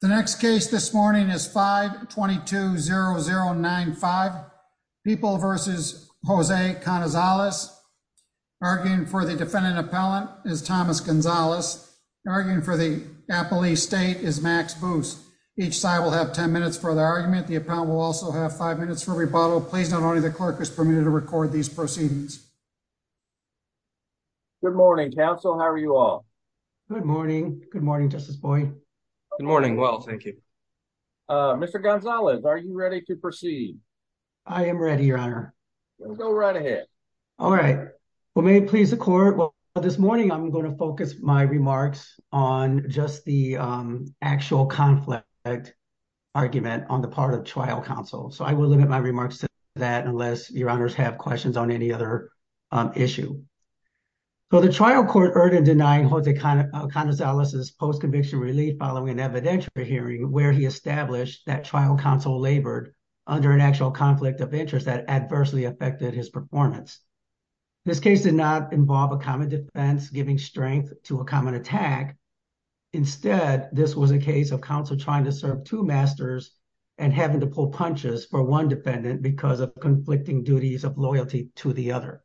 The next case this morning is 522-0095, People v. Jose Canizalex. Arguing for the defendant appellant is Thomas Gonzalez. Arguing for the appellee state is Max Booth. Each side will have 10 minutes for the argument. The appellant will also have five minutes for rebuttal. Please note only the clerk is permitted to record these proceedings. Good morning, counsel. How are you all? Good morning. Good morning, Justice Boyd. Good morning. Well, thank you. Mr. Gonzalez, are you ready to proceed? I am ready, your honor. Go right ahead. All right. Well, may it please the court. Well, this morning I'm going to focus my remarks on just the actual conflict argument on the part of trial counsel. So I will limit my remarks to that unless your honors have questions on any other issue. So the trial court heard in denying Jose Canizalex's post-conviction relief following evidentiary hearing where he established that trial counsel labored under an actual conflict of interest that adversely affected his performance. This case did not involve a common defense giving strength to a common attack. Instead, this was a case of counsel trying to serve two masters and having to pull punches for one defendant because of conflicting duties of loyalty to the other.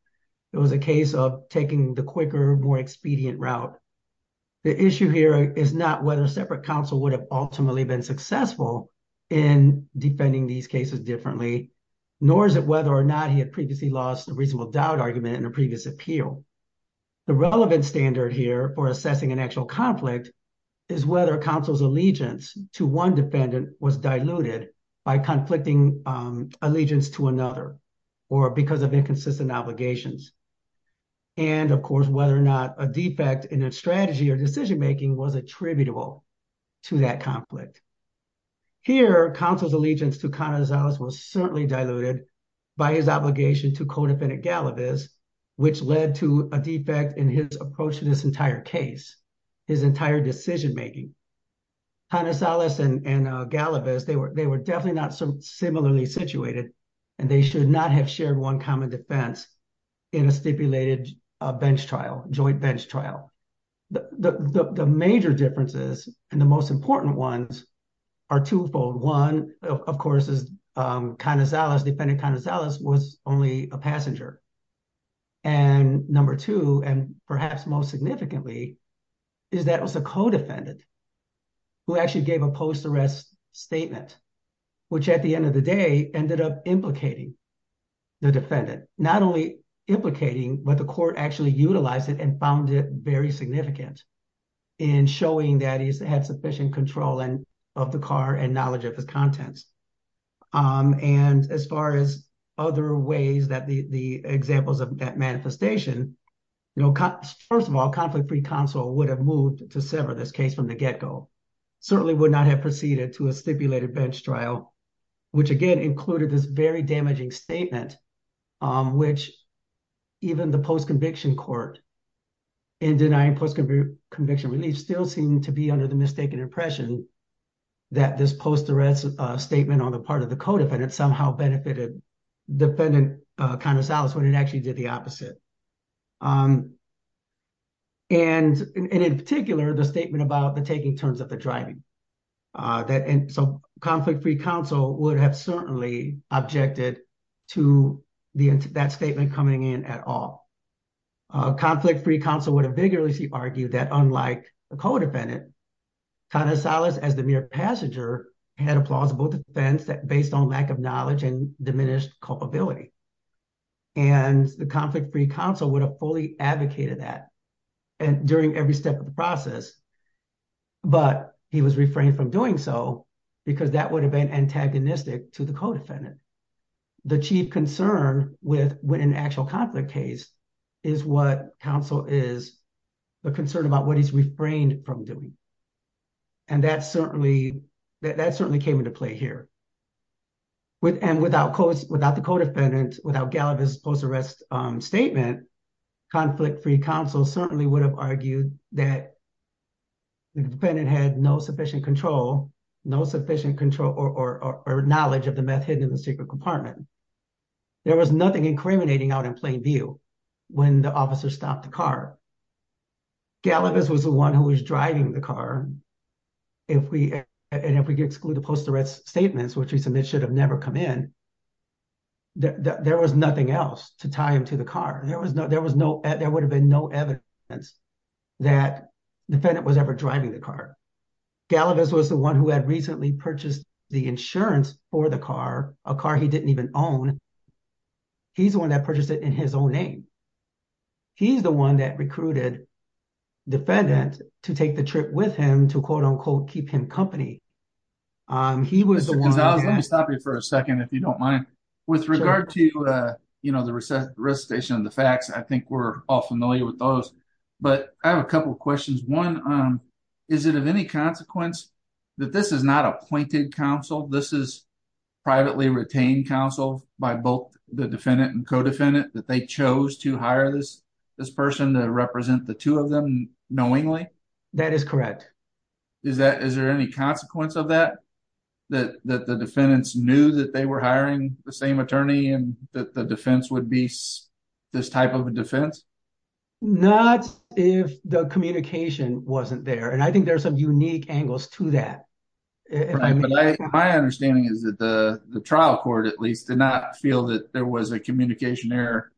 It was a case of taking the quicker, more expedient route. The issue here is not whether a separate counsel would have ultimately been successful in defending these cases differently, nor is it whether or not he had previously lost a reasonable doubt argument in a previous appeal. The relevant standard here for assessing an actual conflict is whether counsel's allegiance to one defendant was diluted by conflicting allegiance to another or because of inconsistent obligations. And, of course, whether or not a defect in a strategy or decision making was attributable to that conflict. Here, counsel's allegiance to Canizalex was certainly diluted by his obligation to co-defendant Galavis, which led to a defect in his approach to this entire case, his entire decision making. Canizalex and Galavis, they were definitely not similarly situated and they should not have shared one common defense in a stipulated bench trial, joint bench trial. The major differences and the most important ones are twofold. One, of course, is Canizalex, defendant Canizalex was only a passenger. And number two, and perhaps most significantly, is that it was a co-defendant who actually gave a post-arrest statement, which at the end of the day ended up implicating the defendant, not only implicating, but the court actually utilized it and found it very significant in showing that he's had sufficient control of the car and knowledge of his contents. And as far as other ways that the examples of that manifestation, you know, first of all, conflict-free counsel would have moved to sever this case from the get-go, certainly would not have proceeded to a stipulated bench trial, which again included this very damaging statement, which even the post-conviction court in denying post-conviction release still seemed to be under the mistaken impression that this post-arrest statement on the part of the co-defendant somehow benefited defendant Canizalex when it actually did the opposite. And in particular, the statement about the taking terms of the driving, that in some conflict-free counsel would have certainly objected to that statement coming in at all. Conflict-free counsel would have vigorously argued that unlike the co-defendant, Canizalex as the mere passenger had a plausible defense that based on lack of knowledge and diminished culpability. And the conflict-free counsel would have fully advocated that and during every step of the process, but he was refrained from doing so because that would have been antagonistic to the co-defendant. The chief concern with an actual conflict case is what counsel is, the concern about what he's refrained from doing. And that certainly came into play here. And without the co-defendant, without Gallivis' post-arrest statement, conflict-free counsel certainly would have argued that the defendant had no sufficient control, no sufficient control or knowledge of the meth hidden in the secret compartment. There was nothing incriminating out in plain view when the officer stopped the car. Gallivis was the one who was driving the car. And if we exclude the post-arrest statements, which we submit should have never come in, there was nothing else to tie him to the car. There was no, there would have been no evidence that defendant was ever driving the car. Gallivis was the one who had recently purchased the insurance for the car, a car he didn't even own. He's the one that purchased it in his own name. He's the one that recruited defendant to take the trip with him to quote unquote, keep him company. He was the one- Mr. Gonzalez, let me stop you for a second, if you don't mind. With regard to, you know, recitation of the facts, I think we're all familiar with those, but I have a couple of questions. One, is it of any consequence that this is not appointed counsel? This is privately retained counsel by both the defendant and co-defendant that they chose to hire this person to represent the two of them knowingly? That is correct. Is that, is there any consequence of that? That the defendants knew that they were hiring the same attorney and that the defense would be this type of a defense? Not if the communication wasn't there. And I think there are some unique angles to that. My understanding is that the trial court, at least, did not feel that there was a communication error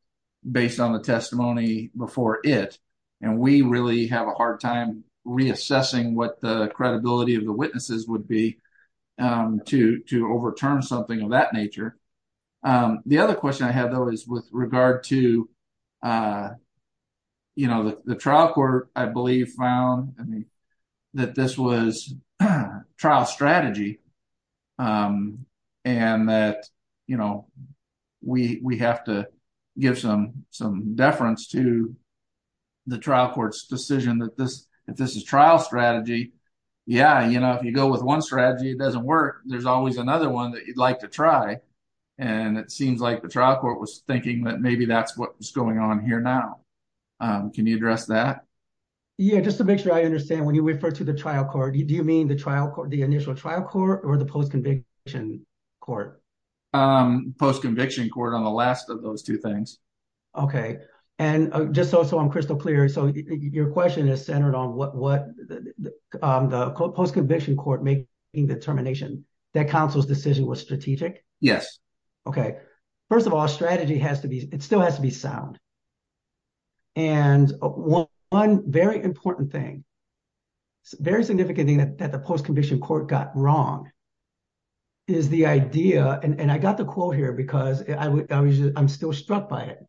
based on the testimony before it. And we really have a hard time reassessing what the credibility of the witnesses would be to overturn something of that nature. The other question I have, though, is with regard to, you know, the trial court, I believe, found that this was trial strategy. And that, you know, we have to give some deference to the trial court's decision that this is trial strategy. Yeah, you know, if you go with one strategy, it doesn't work. There's always another one that you'd like to try. And it seems like the trial court was thinking that maybe that's what's going on here now. Can you address that? Yeah, just to make sure I understand, when you refer to the trial court, do you mean the trial court, the initial trial court or the post-conviction court? Post-conviction court on the last of those two things. Okay. And just so I'm crystal clear, so your question is centered on what the post-conviction court made in the termination, that counsel's decision was strategic? Yes. Okay. First of all, strategy has to be, it still has to be sound. And one very important thing, very significant thing that the post- conviction court got wrong is the idea, and I got the quote here because I'm still struck by it.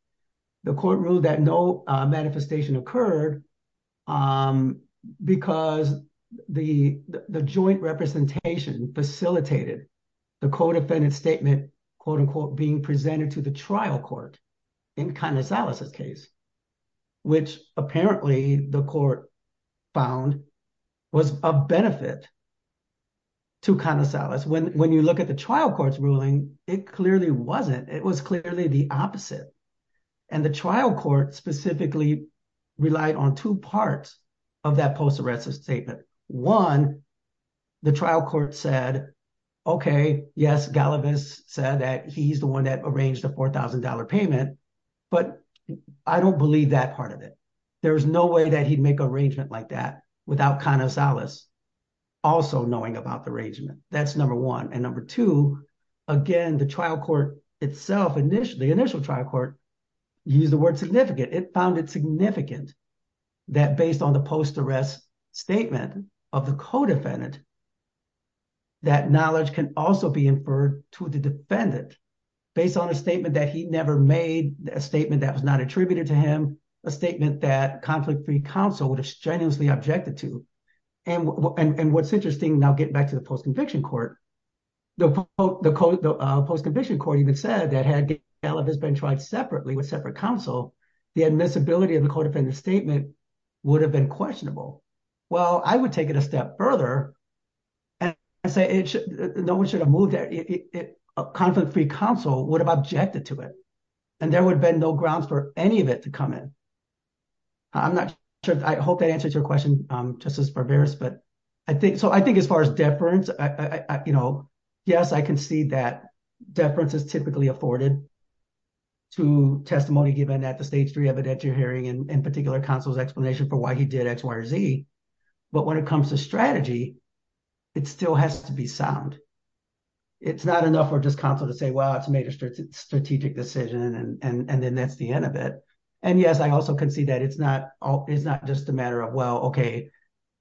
The court ruled that no manifestation occurred because the joint representation facilitated the co-defendant statement, quote unquote, being presented to the trial court in Kondosalis' case, which apparently the court found was a benefit to Kondosalis. When you look at the trial court's ruling, it clearly wasn't. It was clearly the opposite. And the trial court specifically relied on two parts of that post-arrest statement. One, the trial court said, okay, yes, Galavis said that he's the one that arranged the $4,000 payment, but I don't believe that part of it. There was no way that he'd make an arrangement like that without Kondosalis also knowing about the arrangement. That's number one. And number two, again, the trial court itself, the initial trial court used the word significant. It found it significant that based on the post-arrest statement of the co-defendant, that knowledge can also be inferred to the defendant based on a statement that he never made, a statement that was not attributed to him, a statement that conflict-free counsel would have strenuously objected to. And what's interesting now getting back to the post-conviction court, the post-conviction court even said that had Galavis been tried separately with separate counsel, the admissibility of the co-defendant statement would have been questionable. Well, I would take it a step further and say no one should have moved there. Conflict-free counsel would have objected to it and there would have been no grounds for any of it to come in. I'm not sure. I hope that answers your question, Justice Barberos. So I think as far as deference, yes, I can see that deference is typically afforded to testimony given at the stage three evidentiary hearing and in particular, counsel's explanation for why he did X, Y, or Z. But when it comes to strategy, it still has to be sound. It's not enough for just counsel to say, well, it's a major strategic decision and then that's the end of it. And yes, I also can see that it's not just a matter of, well, okay,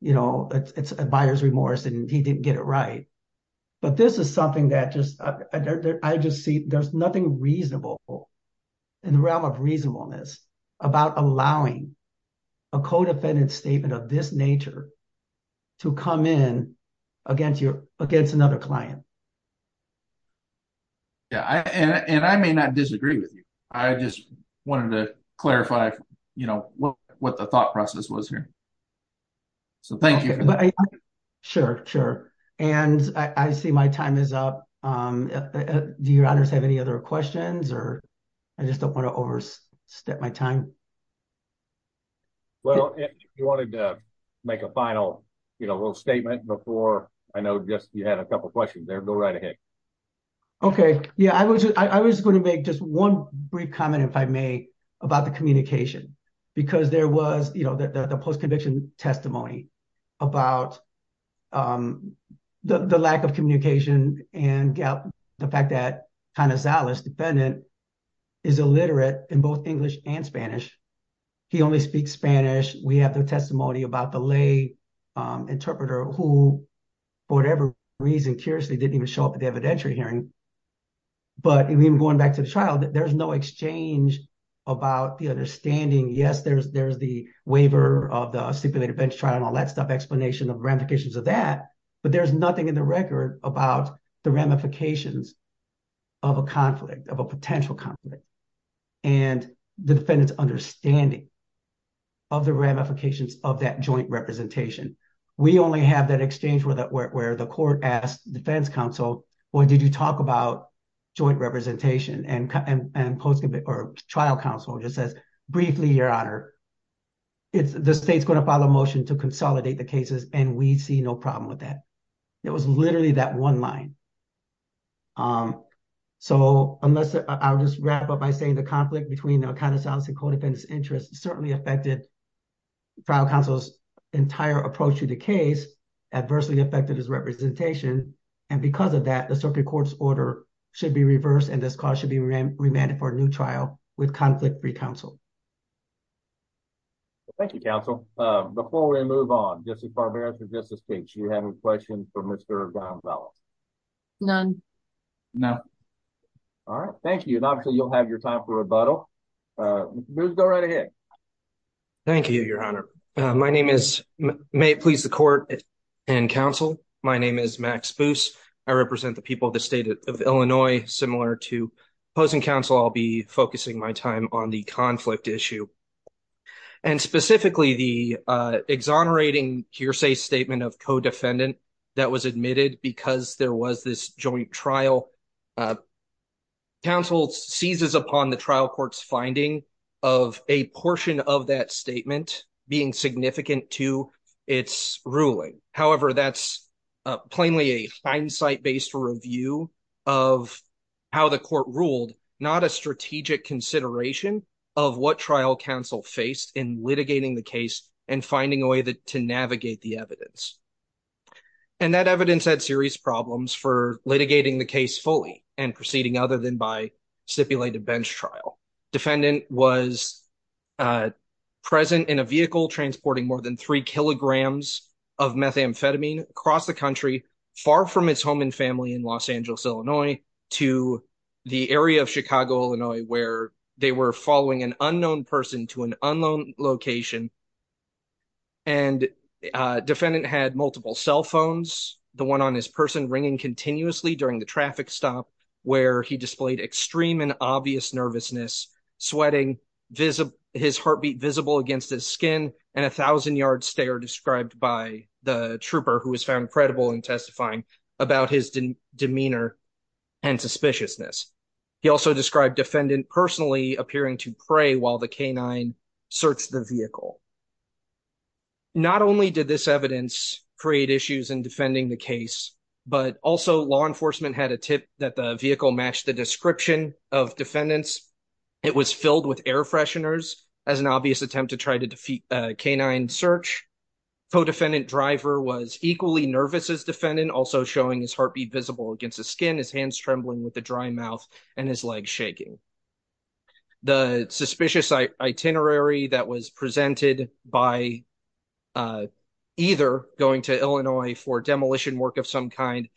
you know, it's a buyer's remorse and he didn't get it right. But this is something that just, I just see, there's nothing reasonable in the realm of reasonableness about allowing a co-defendant statement of this nature to come in against another client. Yeah. And I may not disagree with you. I just wanted to clarify, you know, what the thought process was here. So thank you. Sure, sure. And I see my time is up. Do your honors have any other questions or I just don't want to overstep my time. Well, if you wanted to make a final, you know, little statement before, I know just you had a couple of questions there, go right ahead. Okay. Yeah. I was, I was going to make just one brief comment if I may about the communication because there was, you know, the, the, the post-conviction testimony about the lack of communication and gap, the fact that kind of Zalas defendant is illiterate in both English and Spanish. He only speaks Spanish. We have the testimony about the lay interpreter who for whatever reason, curiously didn't even show up at the evidentiary hearing, but even going back to the trial, there's no exchange about the understanding. Yes, there's, there's the waiver of the stipulated bench trial and all that stuff, explanation of ramifications of that, but there's nothing in the record about the ramifications of a conflict of a potential conflict and the defendant's understanding of the ramifications of that joint representation. We only have that exchange where that, where, where the court asked defense counsel, well, did you talk about joint representation and, and, and post-conviction or trial counsel just says briefly, your honor, it's the state's going to file a motion to consolidate the cases and we see no problem with that. It was literally that one line. So unless I'll just wrap up by saying the conflict between the kind of Zalas and co-defendants interest certainly affected trial counsel's entire approach to the case, adversely affected his representation. And because of that, the circuit court's order should be reversed and this cause should be remanded for a new trial with conflict-free counsel. Thank you, counsel. Before we move on, Justice Barbera, for justice speaks, you have a question for Mr. Gonzales? None. No. All right. Thank you. And obviously you'll have your time for rebuttal. Go right ahead. Thank you, your honor. My name is, may it please the court and counsel. My name is Max Boos. I represent the people of the state of Illinois, similar to opposing counsel, I'll be focusing my time on the conflict issue and specifically the exonerating hearsay statement of co-defendant that was admitted because there of a portion of that statement being significant to its ruling. However, that's plainly a hindsight-based review of how the court ruled, not a strategic consideration of what trial counsel faced in litigating the case and finding a way to navigate the evidence. And that evidence had serious problems for litigating the case fully and proceeding other than by stipulated bench trial. Defendant was present in a vehicle transporting more than three kilograms of methamphetamine across the country, far from his home and family in Los Angeles, Illinois, to the area of Chicago, Illinois, where they were following an unknown person to an unknown location. And defendant had multiple cell phones, the one on his person ringing continuously during the traffic stop, where he displayed extreme and obvious nervousness, sweating, his heartbeat visible against his skin, and a thousand-yard stare described by the trooper who was found credible in testifying about his demeanor and suspiciousness. He also described defendant personally appearing to pray while the canine searched the vehicle. Not only did this evidence create issues in defending the case, but also law enforcement had a tip that the vehicle matched the description of defendants. It was filled with air fresheners as an obvious attempt to try to defeat a canine search. Co-defendant driver was equally nervous as defendant, also showing his heartbeat visible against the skin, his hands trembling with the dry mouth, and his legs shaking. The suspicious itinerary that was presented by either going to Illinois for demolition work of some kind,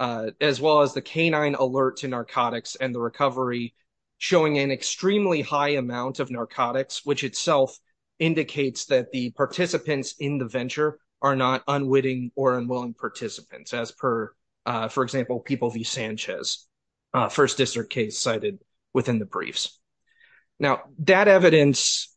as well as the canine alert to narcotics and the recovery, showing an extremely high amount of narcotics, which itself indicates that the participants in the venture are not unwitting or unwilling participants, as per, for example, People v. Sanchez, first district case cited within the briefs. Now, that evidence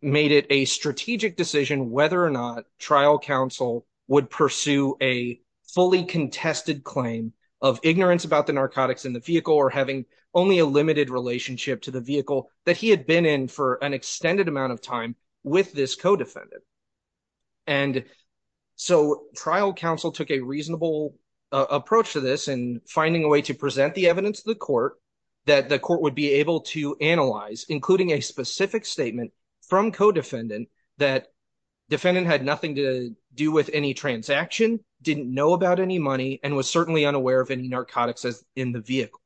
made it a strategic decision whether or not trial counsel would pursue a fully contested claim of ignorance about the narcotics in the vehicle or having only a limited relationship to the vehicle that he had been in for an extended amount of time with this co-defendant. And so, trial counsel took a finding a way to present the evidence to the court that the court would be able to analyze, including a specific statement from co-defendant that defendant had nothing to do with any transaction, didn't know about any money, and was certainly unaware of any narcotics in the vehicle.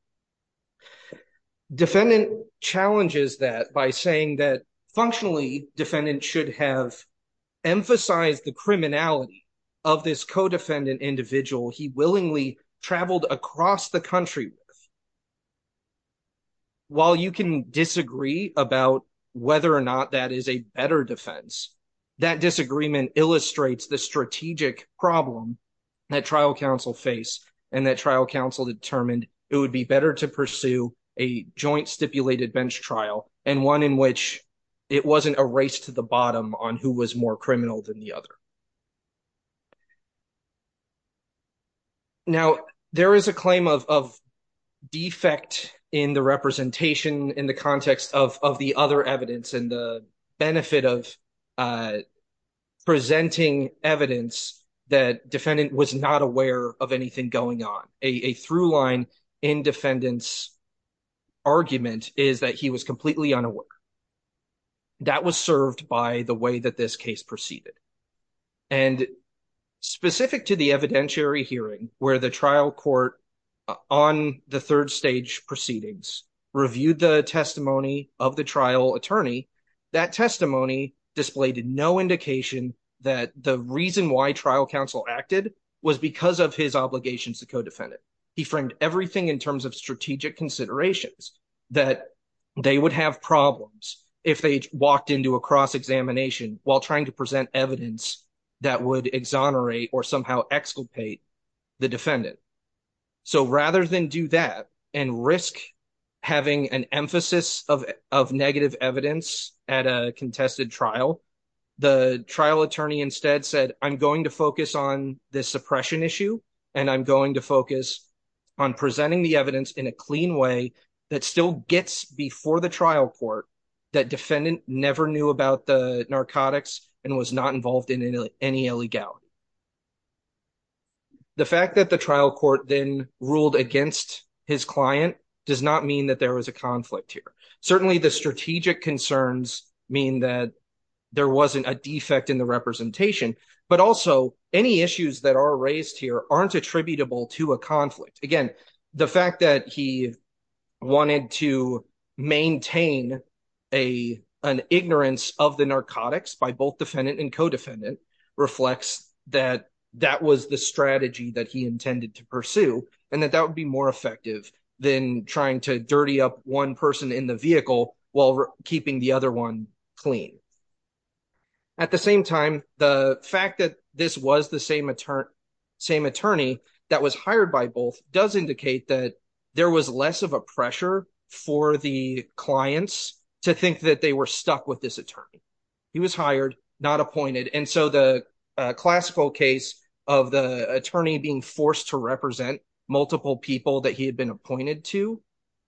Defendant challenges that by saying that, functionally, defendant should have emphasized the criminality of this co-defendant individual he willingly traveled across the country with. While you can disagree about whether or not that is a better defense, that disagreement illustrates the strategic problem that trial counsel faced and that trial counsel determined it would be better to pursue a joint stipulated bench trial and one in which it wasn't a race to the bottom on who was more criminal than the other. Now, there is a claim of defect in the representation in the context of the other evidence and the benefit of presenting evidence that defendant was not aware of anything going on. A through line in defendant's argument is that he was that this case proceeded. And specific to the evidentiary hearing where the trial court on the third stage proceedings reviewed the testimony of the trial attorney, that testimony displayed no indication that the reason why trial counsel acted was because of his obligations to co-defendant. He framed everything in terms of strategic considerations that they would have problems if they walked into a cross-examination while trying to present evidence that would exonerate or somehow exculpate the defendant. So rather than do that and risk having an emphasis of negative evidence at a contested trial, the trial attorney instead said, I'm going to focus on this suppression issue and I'm going to focus on presenting the evidence in a clean way that still gets before the trial court, that defendant never knew about the narcotics and was not involved in any illegality. The fact that the trial court then ruled against his client does not mean that there was a conflict here. Certainly the strategic concerns mean that there wasn't a defect in the representation, but also any issues that are raised here aren't attributable to a conflict. Again, the fact that he wanted to maintain an ignorance of the narcotics by both defendant and co-defendant reflects that that was the strategy that he intended to pursue and that that would be more effective than trying to dirty up one person in the vehicle while keeping the other one clean. At the same time, the fact that this was the same attorney that was hired by both does indicate that there was less of a pressure for the clients to think that they were stuck with this attorney. He was hired, not appointed, and so the classical case of the attorney being forced to represent multiple people that he had been appointed to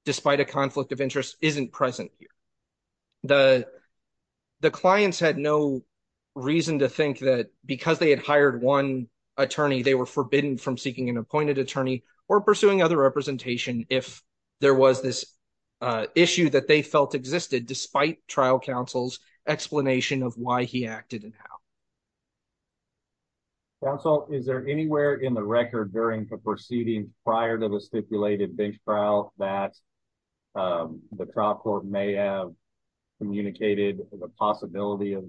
despite a conflict of interest isn't present here. The clients had no reason to think that because they had hired one attorney they were forbidden from seeking an appointed attorney or pursuing other representation if there was this issue that they felt existed despite trial counsel's explanation of why he acted and how. Counsel, is there anywhere in the record during the proceeding prior to the stipulated bench trial that the trial court may have communicated the possibility of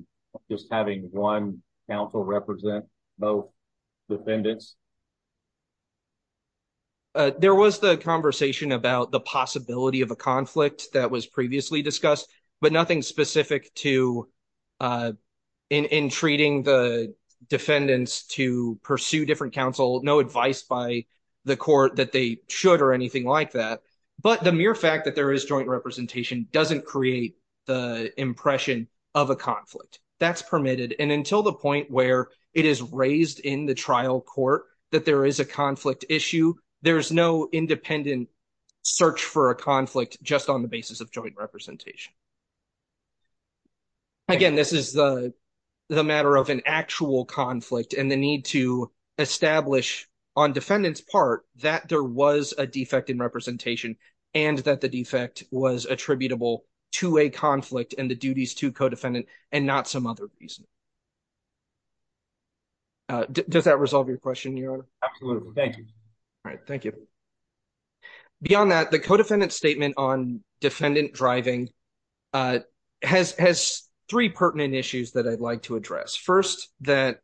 just having one counsel represent both defendants? There was the conversation about the possibility of a conflict that was previously discussed, but nothing specific to in treating the defendants to but the mere fact that there is joint representation doesn't create the impression of a conflict. That's permitted, and until the point where it is raised in the trial court that there is a conflict issue, there's no independent search for a conflict just on the basis of joint representation. Again, this is the matter of an actual conflict and the need to establish on defendant's part that there was a defect in representation and that the defect was attributable to a conflict and the duties to co-defendant and not some other reason. Does that resolve your question, your honor? Absolutely, thank you. All right, thank you. Beyond that, the co-defendant statement on defendant driving has three pertinent issues that I'd like to address. First, that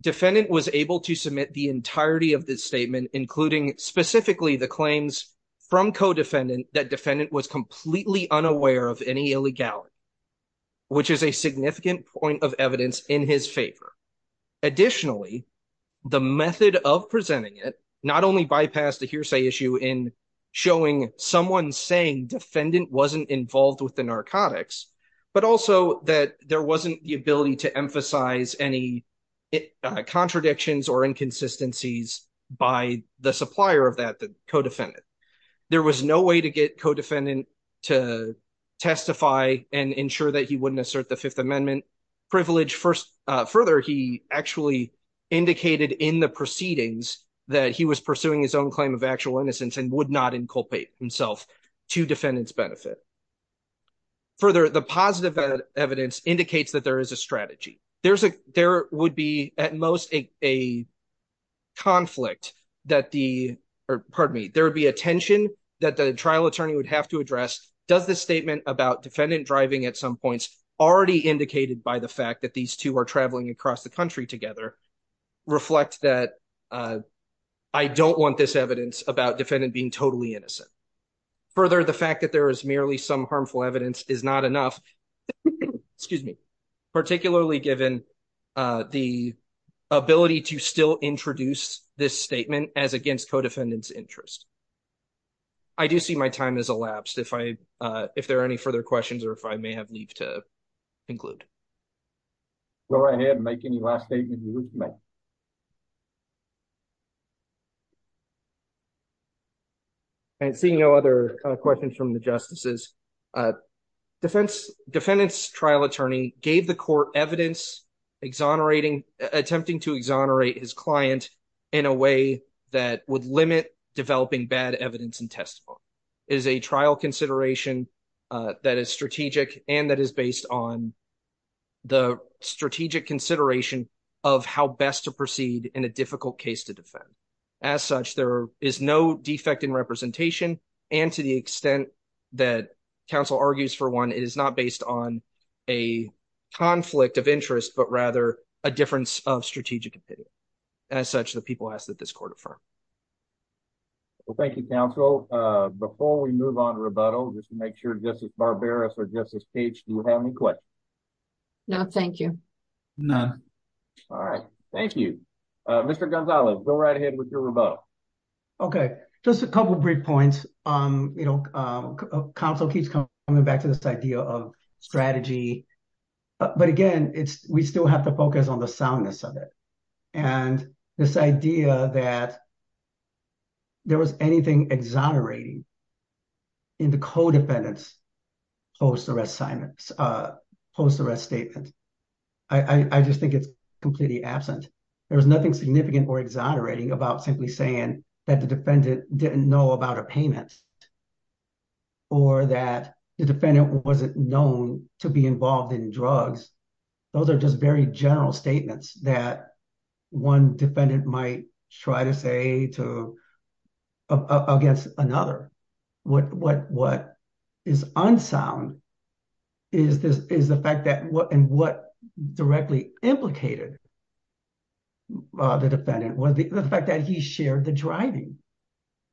defendant was able to submit the entirety of this statement, including specifically the claims from co-defendant that defendant was completely unaware of any illegality, which is a significant point of evidence in his favor. Additionally, the method of presenting it not only bypassed the hearsay issue in showing someone saying defendant wasn't involved with the narcotics, but also that there wasn't the ability to emphasize any contradictions or inconsistencies by the supplier of that, the co-defendant. There was no way to get co-defendant to testify and ensure that he wouldn't assert the Fifth Amendment privilege. Further, he actually indicated in the proceedings that he was pursuing his own claim of actual innocence and would not inculpate himself to defendant's benefit. Further, the positive evidence indicates that there is a strategy. There would be at most a conflict that the, or pardon me, there would be a tension that the trial attorney would have to address. Does this statement about defendant driving at some points already indicated by the fact that these two are about defendant being totally innocent? Further, the fact that there is merely some harmful evidence is not enough, excuse me, particularly given the ability to still introduce this statement as against co-defendant's interest. I do see my time has elapsed. If I, if there are any further questions or if I may have leave to conclude. Go right ahead and make any last statement you wish to make. And seeing no other questions from the justices, defendant's trial attorney gave the court evidence exonerating, attempting to exonerate his client in a way that would limit developing bad evidence and testimony. It is a trial consideration that is strategic and that is based on the strategic consideration of how best to proceed in a difficult case to defend. As such, there is no defect in representation and to the extent that counsel argues for one, it is not based on a conflict of interest, but rather a difference of strategic opinion. As such, the people ask that this court affirm. Well, thank you, counsel. Before we move on to rebuttal, just to make sure Justice Barbaras or Justice Page, do you have any questions? No, thank you. None. All right, thank you. Mr. Gonzalez, go right ahead with your rebuttal. Okay, just a couple of brief points. You know, counsel keeps coming back to this idea of strategy, but again, we still have to focus on the soundness of it and this idea that there was anything exonerating in the co-defendant's post-arrest statement. I just think it's completely absent. There was nothing significant or exonerating about simply saying that the defendant didn't know about a payment or that the defendant wasn't known to be involved in drugs. Those are just very general statements that one defendant might try to say against another. What is unsound is the fact that and what directly implicated the defendant was the fact that he shared the driving.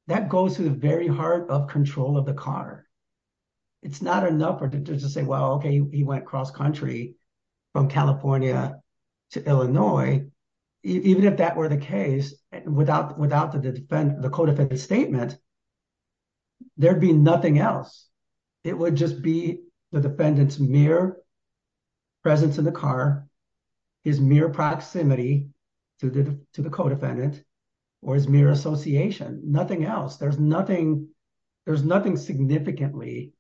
That goes to the very heart of control of the car. It's not enough to just say, well, okay, he went cross-country from California to Illinois. Even if that were the case, without the co-defendant's statement, there'd be nothing else. It would just be the defendant's mere presence in the car, his mere proximity to the co-defendant or his mere association, nothing else. There's nothing significantly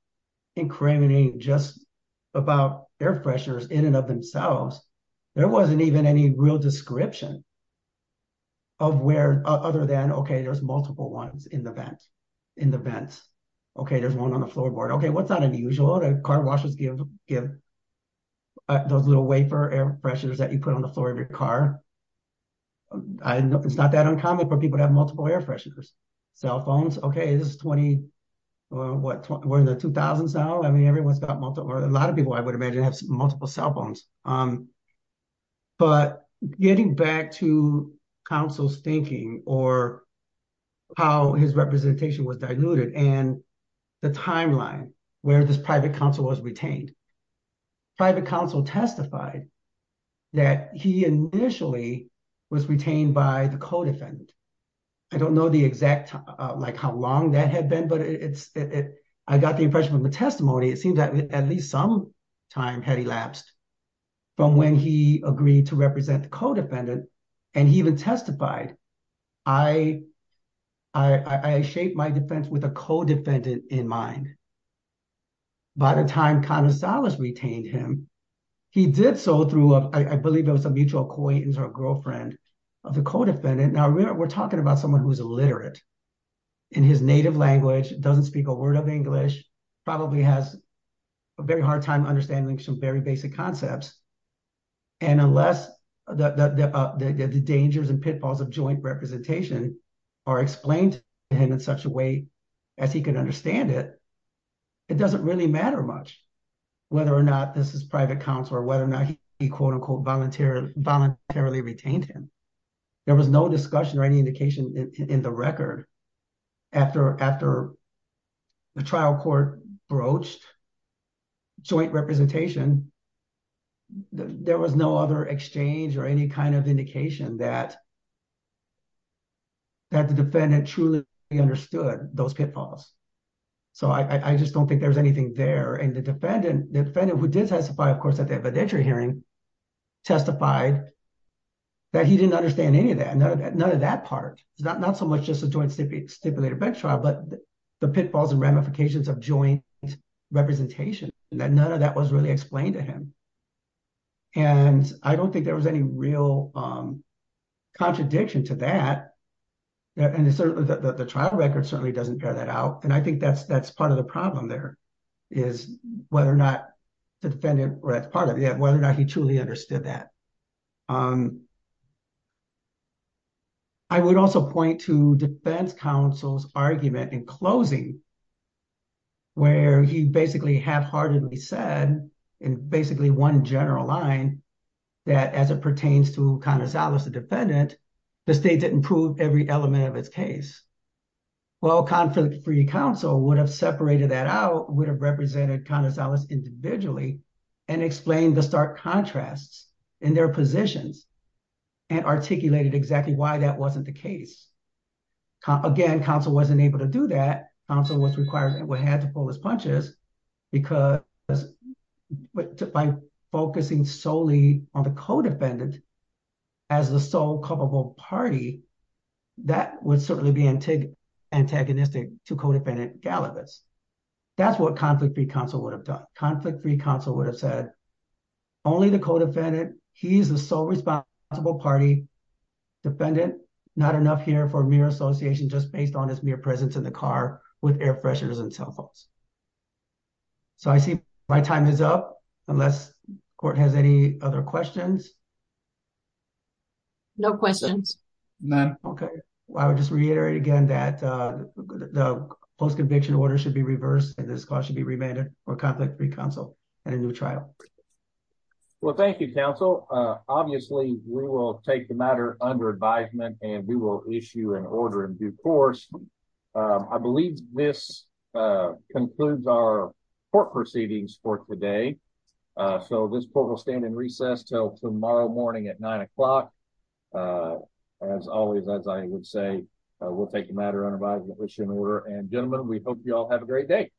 incriminating just about air pressures in and of themselves. There wasn't even any real description of where other than, okay, there's multiple ones in the vents. Okay, there's one on the car washers, give those little wafer air freshers that you put on the floor of your car. It's not that uncommon for people to have multiple air fresheners. Cell phones, okay, this is 20, what, we're in the 2000s now. I mean, everyone's got multiple or a lot of people, I would imagine, have multiple cell phones. But getting back to counsel's thinking or how his representation was diluted and the timeline where this private counsel was retained, private counsel testified that he initially was retained by the co-defendant. I don't know the exact, like how long that had been, but I got the impression from the testimony, it seemed that at least some time had elapsed from when he agreed to represent the co-defendant. And he even testified, I shaped my defense with a co-defendant in mind. By the time connoisseurs retained him, he did so through, I believe it was a mutual acquaintance or a girlfriend of the co-defendant. Now we're talking about someone who's illiterate in his native language, doesn't speak a word of English, probably has a very hard time understanding some very basic concepts. And unless the dangers and pitfalls of joint representation are explained to him in such a way as he can understand it, it doesn't really matter much whether or not this is private counsel or whether or not he, quote unquote, voluntarily retained him. There was no discussion or any there was no other exchange or any kind of indication that the defendant truly understood those pitfalls. So I just don't think there's anything there. And the defendant who did testify, of course, at the evidentiary hearing, testified that he didn't understand any of that. None of that part. It's not so much just a joint stipulated bench trial, but the pitfalls and ramifications of joint representation and that none of that was really explained to him. And I don't think there was any real contradiction to that. And the trial record certainly doesn't bear that out. And I think that's part of the problem there is whether or not the defendant, whether or not he truly understood that. I would also point to defense counsel's argument in closing, where he basically half-heartedly said, in basically one general line, that as it pertains to Konosalus, the defendant, the state didn't prove every element of his case. Well, conflict-free counsel would have separated that out, would have represented Konosalus individually and explained the stark contrasts in their positions and articulated exactly why that wasn't the case. Again, counsel wasn't able to do that. Counsel was required and had to pull his punches because by focusing solely on the co-defendant as the sole culpable party, that would certainly be antagonistic to co-defendant Gallavis. That's what conflict-free counsel would have done. Conflict-free counsel would have said, only the co-defendant, he's the sole responsible party. Defendant, not enough here for mere association just based on his mere presence in the car with air fresheners and cell phones. So I see my time is up, unless court has any other questions. No questions. None. Okay. I would just reiterate again that the post-conviction order should be reversed and this clause should be remanded for conflict-free counsel and a new trial. Well, thank you, counsel. Obviously, we will take the matter under advisement and we will issue an order in due course. I believe this concludes our court proceedings for today. So this court will stand in recess till tomorrow morning at nine o'clock. As always, as I would say, we'll take the matter under advisement, issue an order, and gentlemen, we hope you all have a great day.